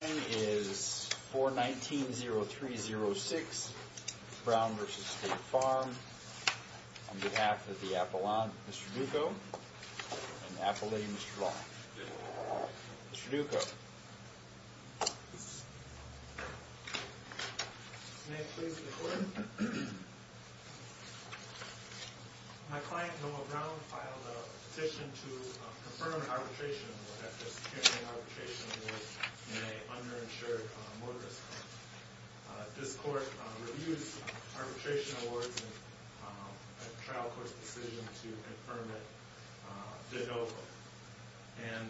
My name is 419-0306 Brown v. State Farm on behalf of the Appalachian Mr. Duco and Appalachian Mr. Long. Mr. Duco. May I please record? My client, Noah Brown, filed a petition to confirm arbitration at the Securing Arbitration Board in an underinsured motorist club. This court reviews arbitration awards and a trial court's decision to confirm it did no good. And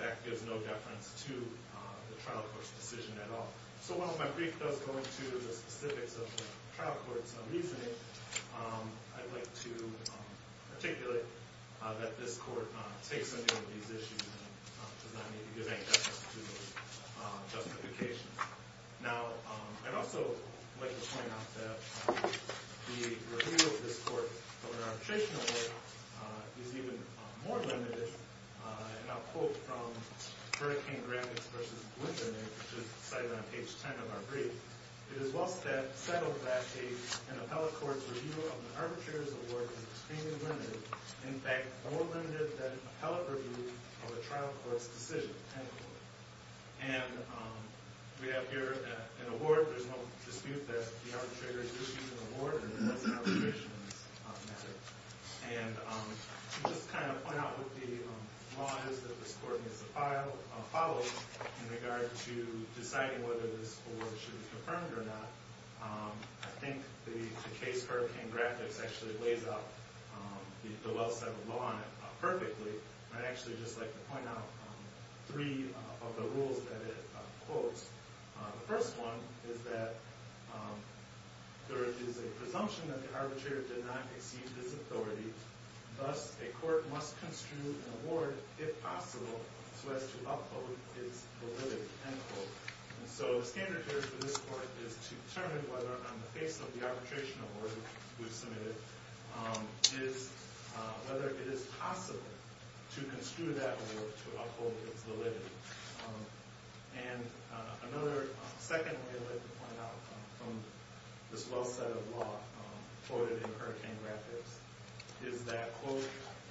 that gives no deference to the trial court's decision at all. So while my brief does go into the specifics of the trial court's reasoning, I'd like to articulate that this court takes into account these issues and does not need to give any deference to those justifications. Now, I'd also like to point out that the review of this court's arbitration award is even more limited. And I'll quote from Hurricane Graphics v. Glyndon, which is cited on page 10 of our brief. It is well said that an appellate court's review of an arbitrator's award is extremely limited. In fact, more limited than an appellate review of a trial court's decision. And we have here an award. There's no dispute that the arbitrator is reviewing the award. And just to kind of point out what the law is that this court needs to follow in regard to deciding whether this award should be confirmed or not. I think the case Hurricane Graphics actually lays out the well said law perfectly. I'd actually just like to point out three of the rules that it quotes. The first one is that there is a presumption that the arbitrator did not exceed his authority. Thus, a court must construe an award, if possible, so as to uphold its validity, end quote. And so the standard here for this court is to determine whether on the face of the arbitration award we've submitted, whether it is possible to construe that award to uphold its validity. And another, second rule I'd like to point out from this well said law quoted in Hurricane Graphics is that, quote,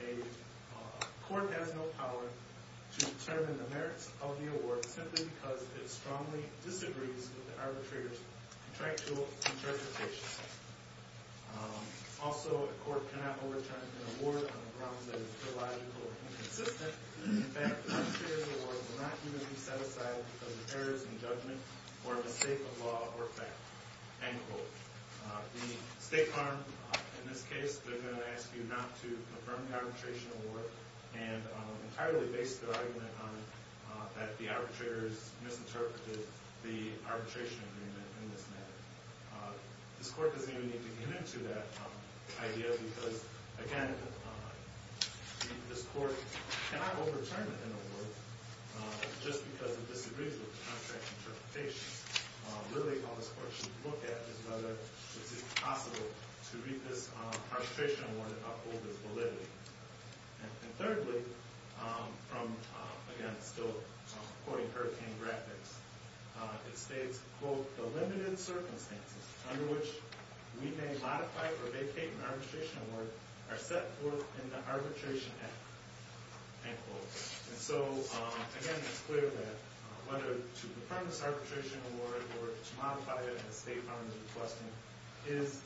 a court has no power to determine the merits of the award simply because it strongly disagrees with the arbitrator's contractual interpretation. Also, a court cannot overturn an award on the grounds that it is illogical or inconsistent. In fact, the arbitrator's award will not even be set aside because of errors in judgment or a mistake of law or fact, end quote. The state farm, in this case, they're going to ask you not to confirm the arbitration award and entirely base their argument on that the arbitrators misinterpreted the arbitration agreement in this matter. This court doesn't even need to get into that idea because, again, this court cannot overturn an award just because it disagrees with the contractual interpretation. Really, all this court should look at is whether it's possible to read this arbitration award to uphold its validity. And thirdly, from, again, still quoting Hurricane Graphics, it states, quote, the limited circumstances under which we may modify or vacate an arbitration award are set forth in the arbitration act, end quote. And so, again, it's clear that whether to confirm this arbitration award or to modify it in the state farm's request is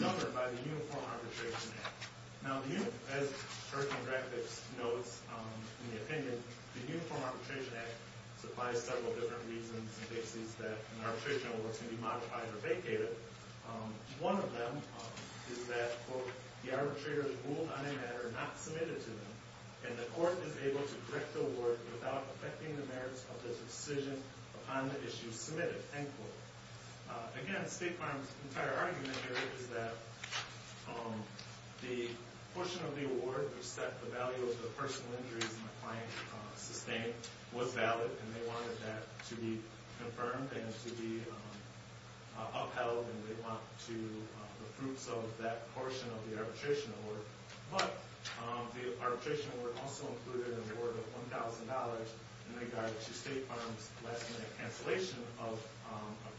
governed by the Uniform Arbitration Act. As Hurricane Graphics notes in the opinion, the Uniform Arbitration Act supplies several different reasons in cases that an arbitration award can be modified or vacated. One of them is that, quote, the arbitrators ruled on a matter not submitted to them and the court is able to correct the award without affecting the merits of the decision upon the issue submitted, end quote. Again, the state farm's entire argument here is that the portion of the award which set the value of the personal injuries my client sustained was valid and they wanted that to be confirmed and to be upheld and they want the fruits of that portion of the arbitration award. But the arbitration award also included an award of $1,000 in regard to state farm's last minute cancellation of a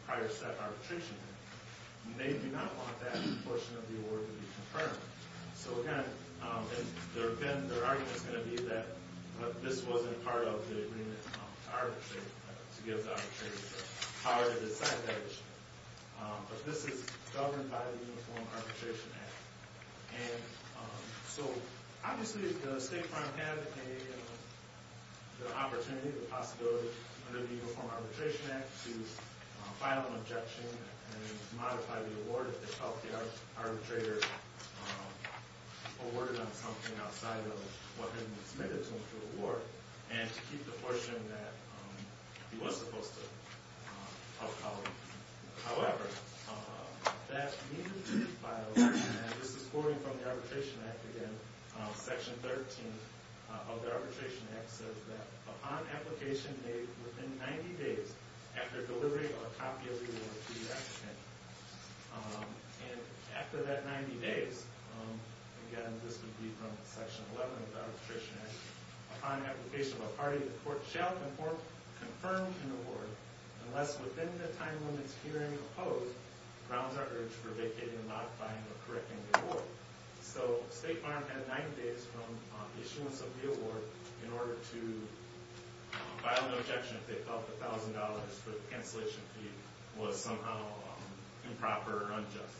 prior set arbitration. And they do not want that portion of the award to be confirmed. So, again, their argument is going to be that this wasn't part of the agreement to give the arbitrators the power to decide that issue. But this is governed by the Uniform Arbitration Act. And so, obviously, the state farm had the opportunity, the possibility under the Uniform Arbitration Act to file an objection and modify the award if they felt the arbitrator awarded on something outside of what had been submitted to them for the award and to keep the portion that he was supposed to upheld. However, that needed to be filed. And this is borrowing from the Arbitration Act again. Section 13 of the Arbitration Act says that upon application made within 90 days after delivery of a copy of the award to the applicant. And after that 90 days, again, this would be from Section 11 of the Arbitration Act, upon application of a party, the court shall conform, confirm, and award unless within the time limits hearing opposed, grounds are urged for vacating and modifying or correcting the award. So, state farm had 90 days from issuance of the award in order to file an objection if they felt the $1,000 for the cancellation fee was somehow improper or unjust.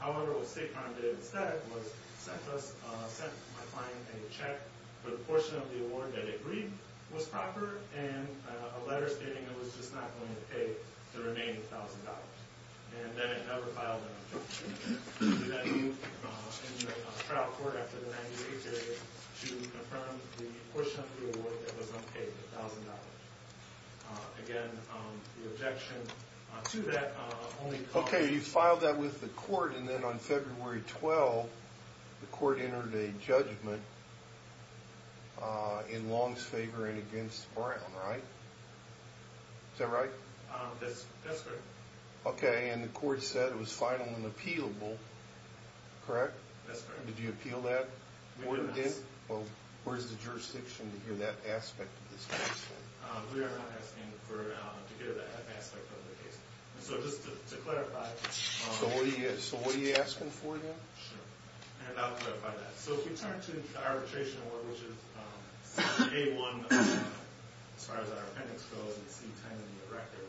However, what state farm did instead was sent us, my client, a check for the portion of the award that it agreed was proper and a letter stating it was just not going to pay the remaining $1,000. And then it never filed an objection. And then you enter a trial court after the 90-day period to confirm the portion of the award that was unpaid, $1,000. Again, the objection to that only caused... Okay, you filed that with the court and then on February 12, the court entered a judgment in Long's favor and against Brown, right? Is that right? That's correct. Okay, and the court said it was final and appealable, correct? That's correct. Did you appeal that? Well, where's the jurisdiction to hear that aspect of this case? We are not asking for... to hear that aspect of the case. So, just to clarify... So, what are you asking for then? I'm about to clarify that. So, if we turn to the arbitration award, which is A-1, as far as our appendix goes, it's E-10 in the record.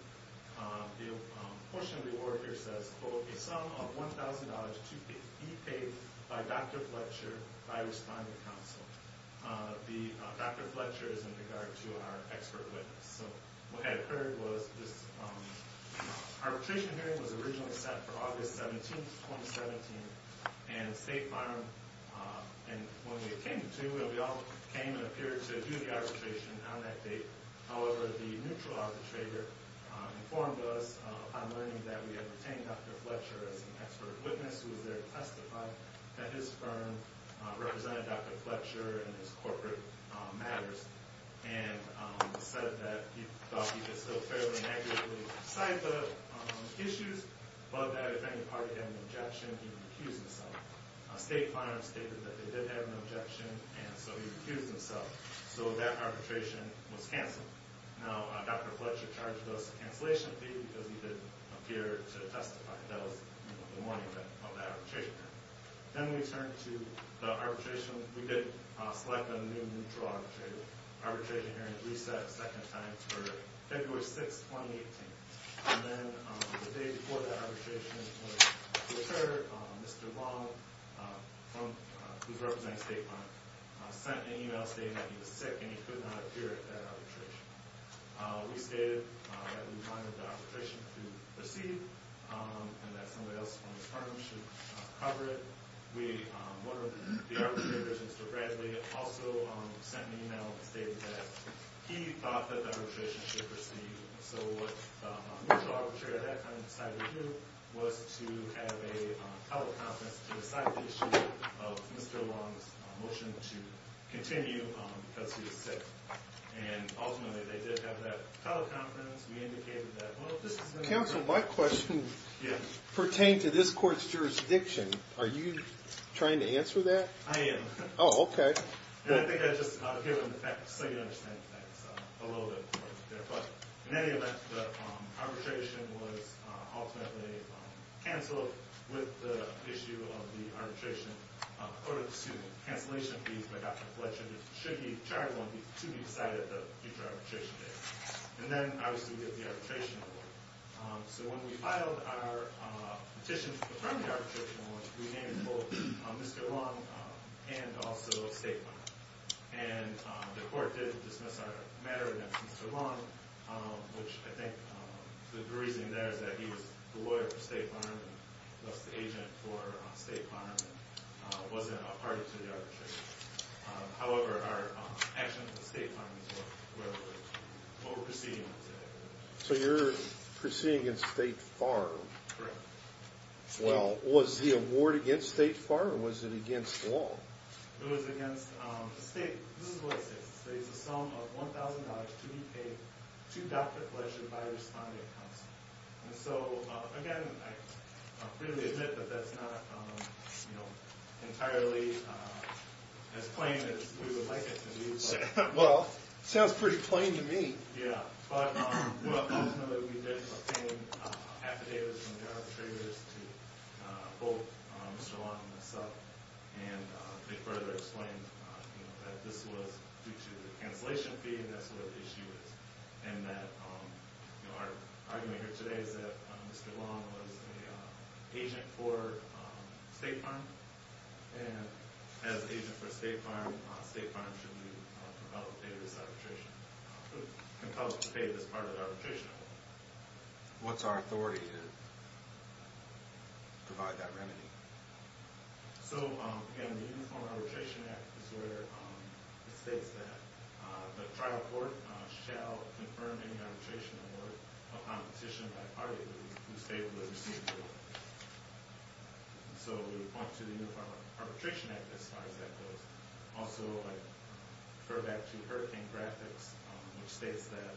The portion of the award here says, quote, a sum of $1,000 to be paid by Dr. Fletcher by responding counsel. Dr. Fletcher is in regard to our expert witness. So, what had occurred was this arbitration hearing was originally set for August 17, 2017, and State Farm, and when we came to, we all came and appeared to do the arbitration on that date. However, the neutral arbitrator informed us on learning that we had retained Dr. Fletcher as an expert witness who was there to testify that his firm represented Dr. Fletcher in his corporate matters and said that he thought he could still fairly negatively cite the issues, but that if any party had an objection, he would accuse himself. State Farm stated that they did have an objection, and so he recused himself. So, that arbitration was canceled. Now, Dr. Fletcher charged us a cancellation fee because he didn't appear to testify. That was the morning of that arbitration hearing. Then we turned to the arbitration... We did select a new neutral arbitrator. Arbitration hearing was reset a second time to February 6, 2018. And then, the day before that arbitration hearing occurred, Mr. Long, who's representing State Farm, sent an email stating that he was sick and he could not appear at that arbitration. We stated that we wanted the arbitration to proceed and that somebody else from his firm should cover it. One of the arbitrators, Mr. Bradley, also sent an email stating that he thought that the arbitration should proceed. So, what the neutral arbitrator at that time decided to do was to have a teleconference to decide the issue of Mr. Long's motion to continue because he was sick. And, ultimately, they did have that teleconference. We indicated that, well, this is... Counsel, my question pertained to this court's jurisdiction. Are you trying to answer that? I am. Oh, okay. I think I just want to give them the facts so you understand the facts a little bit more. But, in any event, the arbitration was ultimately canceled with the issue of the arbitration. According to the student cancellation fees by Godfrey Fletcher, it should be charged to be decided at the future arbitration hearing. And then, obviously, we get the arbitration report. So, when we filed our petition to confirm the arbitration, we named both Mr. Long and also State Fireman. And the court did dismiss our matter against Mr. Long, which I think the reasoning there is that he was the lawyer for State Fireman, thus the agent for State Fireman, wasn't a party to the arbitration. However, our actions with State Fireman were over-proceeding. So, you're proceeding against State Fireman? Correct. Well, was the award against State Fireman or was it against Long? It was against State Fireman. This is what it says. It says a sum of $1,000 to be paid to Dr. Fletcher by responding counsel. And so, again, I really admit that that's not entirely as plain as we would like it to be. Well, it sounds pretty plain to me. Well, ultimately, we did obtain affidavits from the arbitrators to hold Mr. Long and myself. And they further explained that this was due to the cancellation fee, and that's where the issue is. And that our argument here today is that Mr. Long was an agent for State Fireman. And as an agent for State Fireman, State Fireman should be compelled to pay this arbitration. Compelled to pay this part of the arbitration. What's our authority to provide that remedy? So, again, the Uniform Arbitration Act is where it states that the trial court shall confirm any arbitration or competition by party who stated the receipt of the award. So, we point to the Uniform Arbitration Act as far as that goes. Also, I refer back to Hurricane Graphics, which states that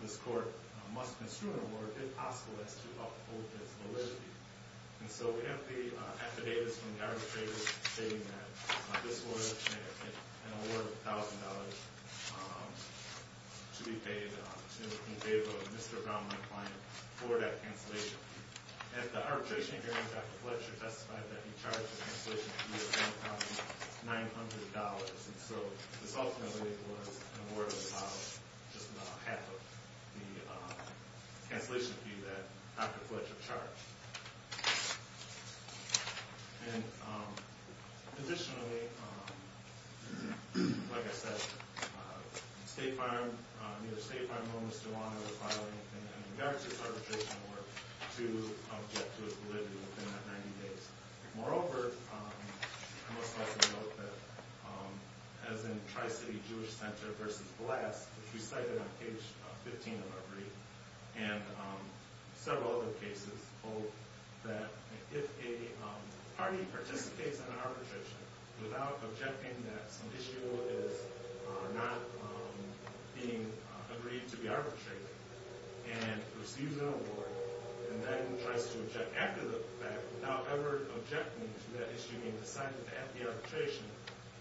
this court must construe an award, if possible, as to uphold its validity. And so, we have the affidavits from the arbitrators stating that this was an award of $1,000 to be paid in favor of Mr. Brown, my client, for that cancellation. And the arbitration hearing, Dr. Fletcher testified that he charged the cancellation fee of $1,900. And so, this ultimately was an award of about just about half of the cancellation fee that Dr. Fletcher charged. And, additionally, like I said, State Farm, neither State Farm nor Mr. Brown are required in the merits of this arbitration award to object to its validity within that 90 days. Moreover, I must also note that, as in Tri-City Jewish Center v. Glass, which we cited on page 15 of our brief, and several other cases, both that if a party participates in an arbitration without objecting that some issue is not being agreed to be arbitrated, and receives an award, and then tries to object after the fact, without ever objecting to that issue being decided at the arbitration,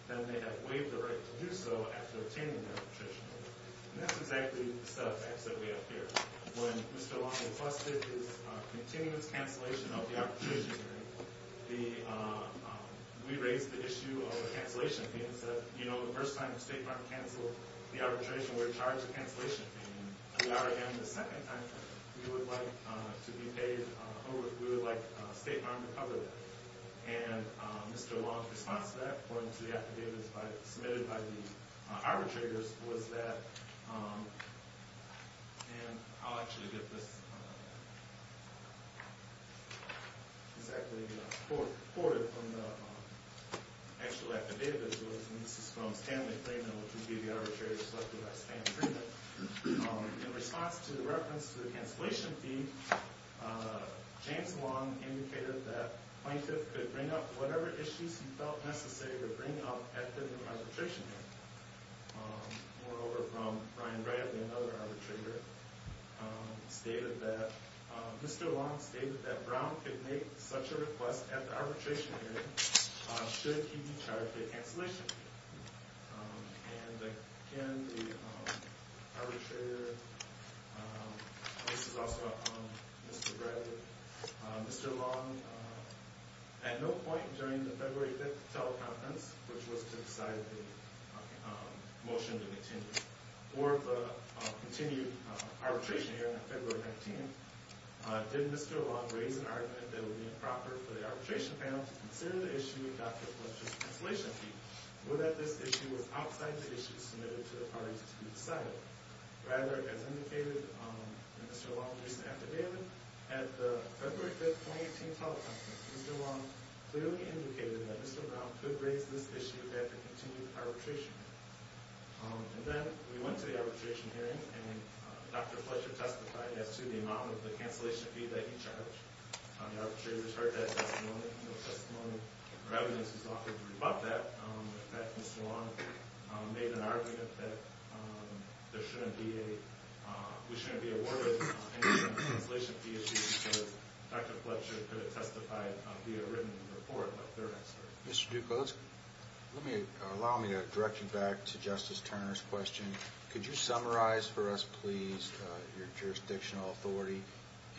then they have waived the right to do so after obtaining the arbitration award. And that's exactly the set of facts that we have here. When Mr. Long requested his continuous cancellation of the arbitration hearing, we raised the issue of the cancellation fee and said, you know, the first time State Farm canceled the arbitration, we're charged a cancellation fee. And the second time, we would like State Farm to cover that. And Mr. Long's response to that, according to the affidavits submitted by the arbitrators, was that, and I'll actually get this exactly recorded from the actual affidavits. This is from Stanley Freedman, which would be the arbitrator selected by Stanley Freedman. In response to the reference to the cancellation fee, James Long indicated that plaintiffs could bring up whatever issues he felt necessary to bring up at the arbitration hearing. Moreover, from Brian Bradley, another arbitrator, stated that, Mr. Long stated that Brown could make such a request at the arbitration hearing should he be charged a cancellation fee. And again, the arbitrator, this is also on Mr. Bradley, stated that Mr. Long, at no point during the February 5th teleconference, which was to decide the motion to continue, or the continued arbitration hearing on February 19th, did Mr. Long raise an argument that it would be improper for the arbitration panel to consider the issue with Dr. Fletcher's cancellation fee, or that this issue was outside the issues submitted to the parties to be decided. Rather, as indicated by Mr. Long, at the February 5th 2018 teleconference, Mr. Long clearly indicated that Mr. Brown could raise this issue at the continued arbitration hearing. And then, we went to the arbitration hearing, and Dr. Fletcher testified as to the amount of the cancellation fee that he charged. The arbitrator's heard that testimony. The testimony or evidence is offered to rebut that. In fact, Mr. Long made an argument that there shouldn't be a, we shouldn't be awarded any cancellation fee issue, because Dr. Fletcher could have testified via written report. Mr. Ducos, allow me to direct you back to Justice Turner's question. Could you summarize for us, please, your jurisdictional authority?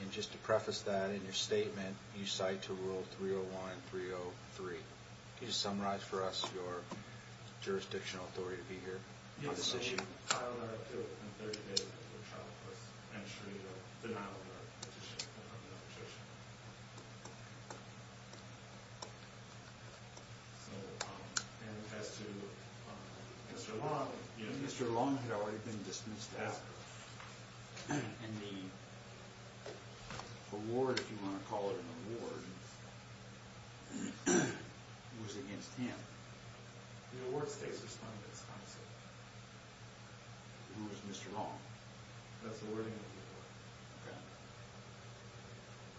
And just to preface that, in your statement, you cite to Rule 301 and 303. Could you summarize for us your jurisdictional authority to be here on this issue? I would argue that Rule 303 is a childless entry or denial of work petition. Mr. Long had already been dismissed after. And the award, if you want to call it an award, was against him. The award stays with Respondent's Counsel. Who is Mr. Long? That's the wording of the award. Okay.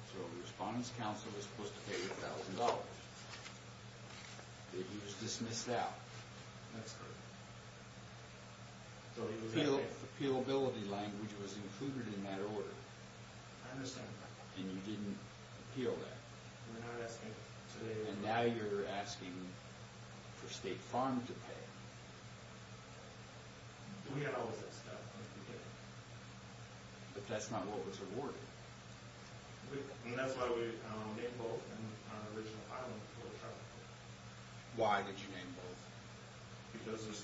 So the Respondent's Counsel was supposed to pay $1,000. He was dismissed out. That's correct. Appealability language was included in that order. I understand. And you didn't appeal that. And now you're asking for State Farm to pay. But that's not what was awarded. Why did you name both?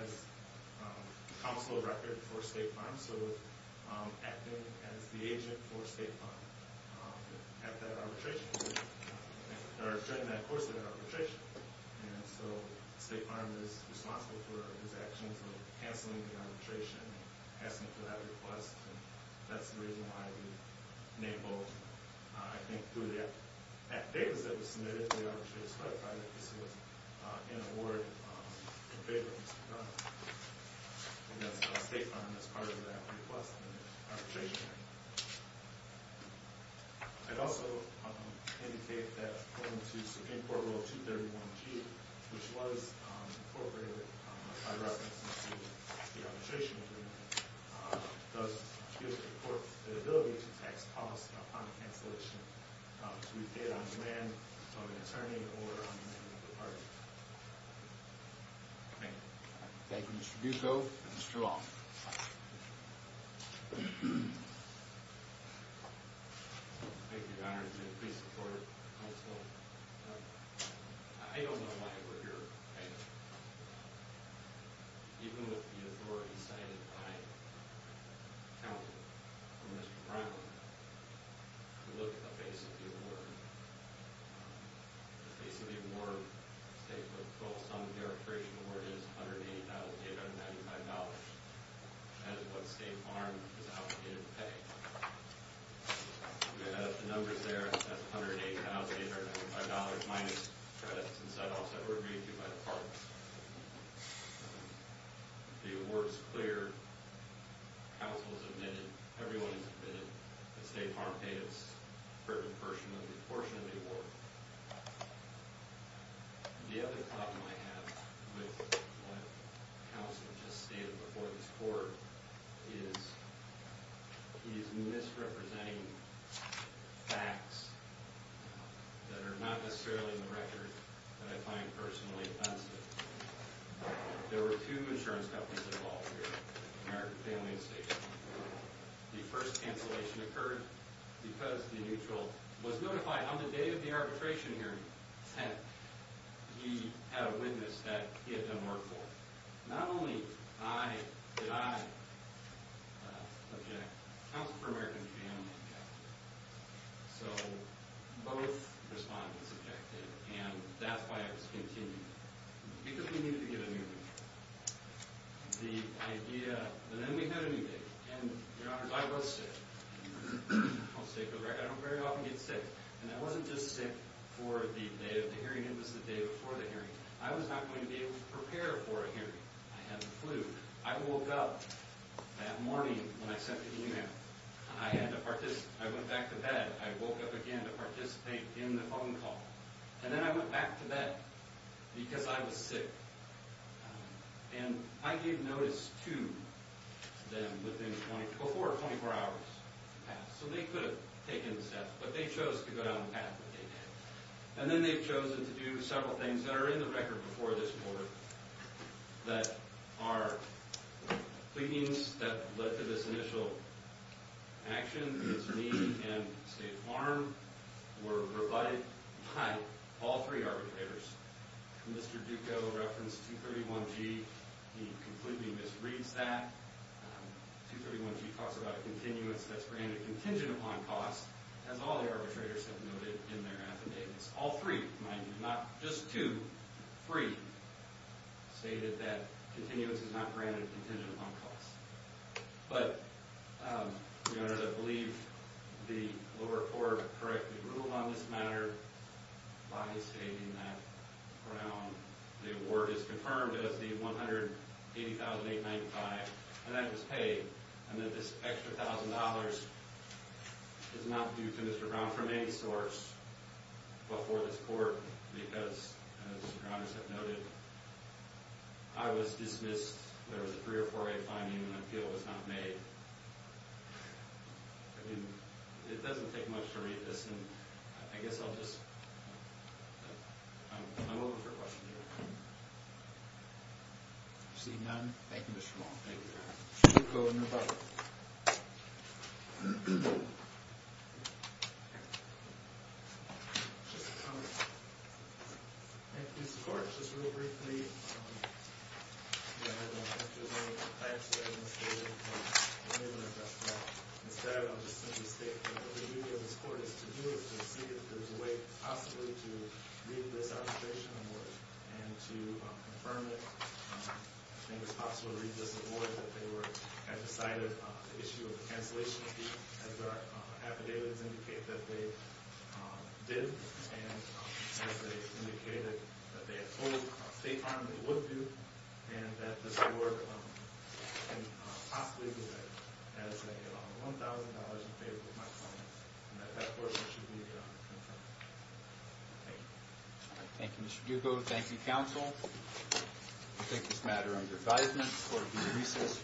As counsel of record for State Farm. So acting as the agent for State Farm at that arbitration. Or during that course of that arbitration. And so State Farm is responsible for his actions of canceling the arbitration. Passing for that request. And that's the reason why we named both. I think through that. Because that was submitted, the arbitrator specified that this was an award in favor of Mr. Farmer. And that's State Farm as part of that request in the arbitration. I'd also indicate that according to Supreme Court Rule 231G, which was incorporated by reference to the arbitration agreement. Does give the court the ability to tax costs upon cancellation to be paid on demand from an attorney or on demand from the party. Thank you. Thank you, Mr. Duco. Mr. Roth. Thank you, Your Honor. Please support it. I don't know why we're here. Thank you. Even with the authority cited by counsel for Mr. Brown. To look at the face of the award. The face of the award. Statehood 12th Sum of the Arbitration Award is $180,895. That is what State Farm is obligated to pay. We have the numbers there. That's $180,895 minus credits and set-offs that were agreed to by the parks. The award is clear. Counsel has admitted. Everyone has admitted. State Farm pays a certain portion of the award. The other problem I have with what counsel just stated before this court is he's misrepresenting facts that are not necessarily in the record that I find personally offensive. There were two insurance companies involved here. American Family and State. The first cancellation occurred because the neutral was notified on the day of the arbitration hearing that he had a witness that he had done work for. Not only did I object. Counsel for American Family objected. So both respondents objected. And that's why it was continued. Because we needed to get a new neutral. The idea... But then we had a new day. And, Your Honors, I was sick. I'll say for the record, I don't very often get sick. And I wasn't just sick for the day of the hearing. It was the day before the hearing. I was not going to be able to prepare for a hearing. I had the flu. I woke up that morning when I sent the email. I had to participate. I went back to bed. I woke up again to participate in the phone call. And then I went back to bed because I was sick. And I gave notice to them within 24 hours to pass. So they could have taken the step. But they chose to go down the path that they did. And then they've chosen to do several things that are in the record before this court. That are... Pleadings that led to this initial action against me and State Farm were rebutted by all three arbitrators. Mr. Duco referenced 231G. He completely misreads that. 231G talks about a continuance that's granted contingent upon cost. As all the arbitrators have noted in their affidavits. All three. Mind you, not just two. Three stated that continuance is not granted contingent upon cost. But, Your Honors, I believe the lower court correctly ruled on this matter. By stating that Brown... The award is confirmed as the $180,895. And that was paid. And that this extra $1,000 is not due to Mr. Brown from any source before this court. Because, as Your Honors have noted, I was dismissed. There was a three or four way finding. And I feel it was not made. I mean, it doesn't take much to read this. And I guess I'll just... I'm open for questions. Seeing none. Thank you, Mr. Long. Thank you, Your Honor. Mr. Duco in rebuttal. Just a comment. This court, just real briefly... Instead, I'll just simply state... What the duty of this court is to do is to see if there's a way, possibly, to read this arbitration award. And to confirm it. I think it's possible to read this award that they were... Have decided the issue of the cancellation fee. As their affidavits indicate that they did. And as they indicated that they had told State Farm they would do. And that this award can possibly be read as $1,000 in favor of my client. And that that portion should be confirmed. Thank you. Thank you, Mr. Duco. Thank you, counsel. We take this matter under advisement. Court is recessed.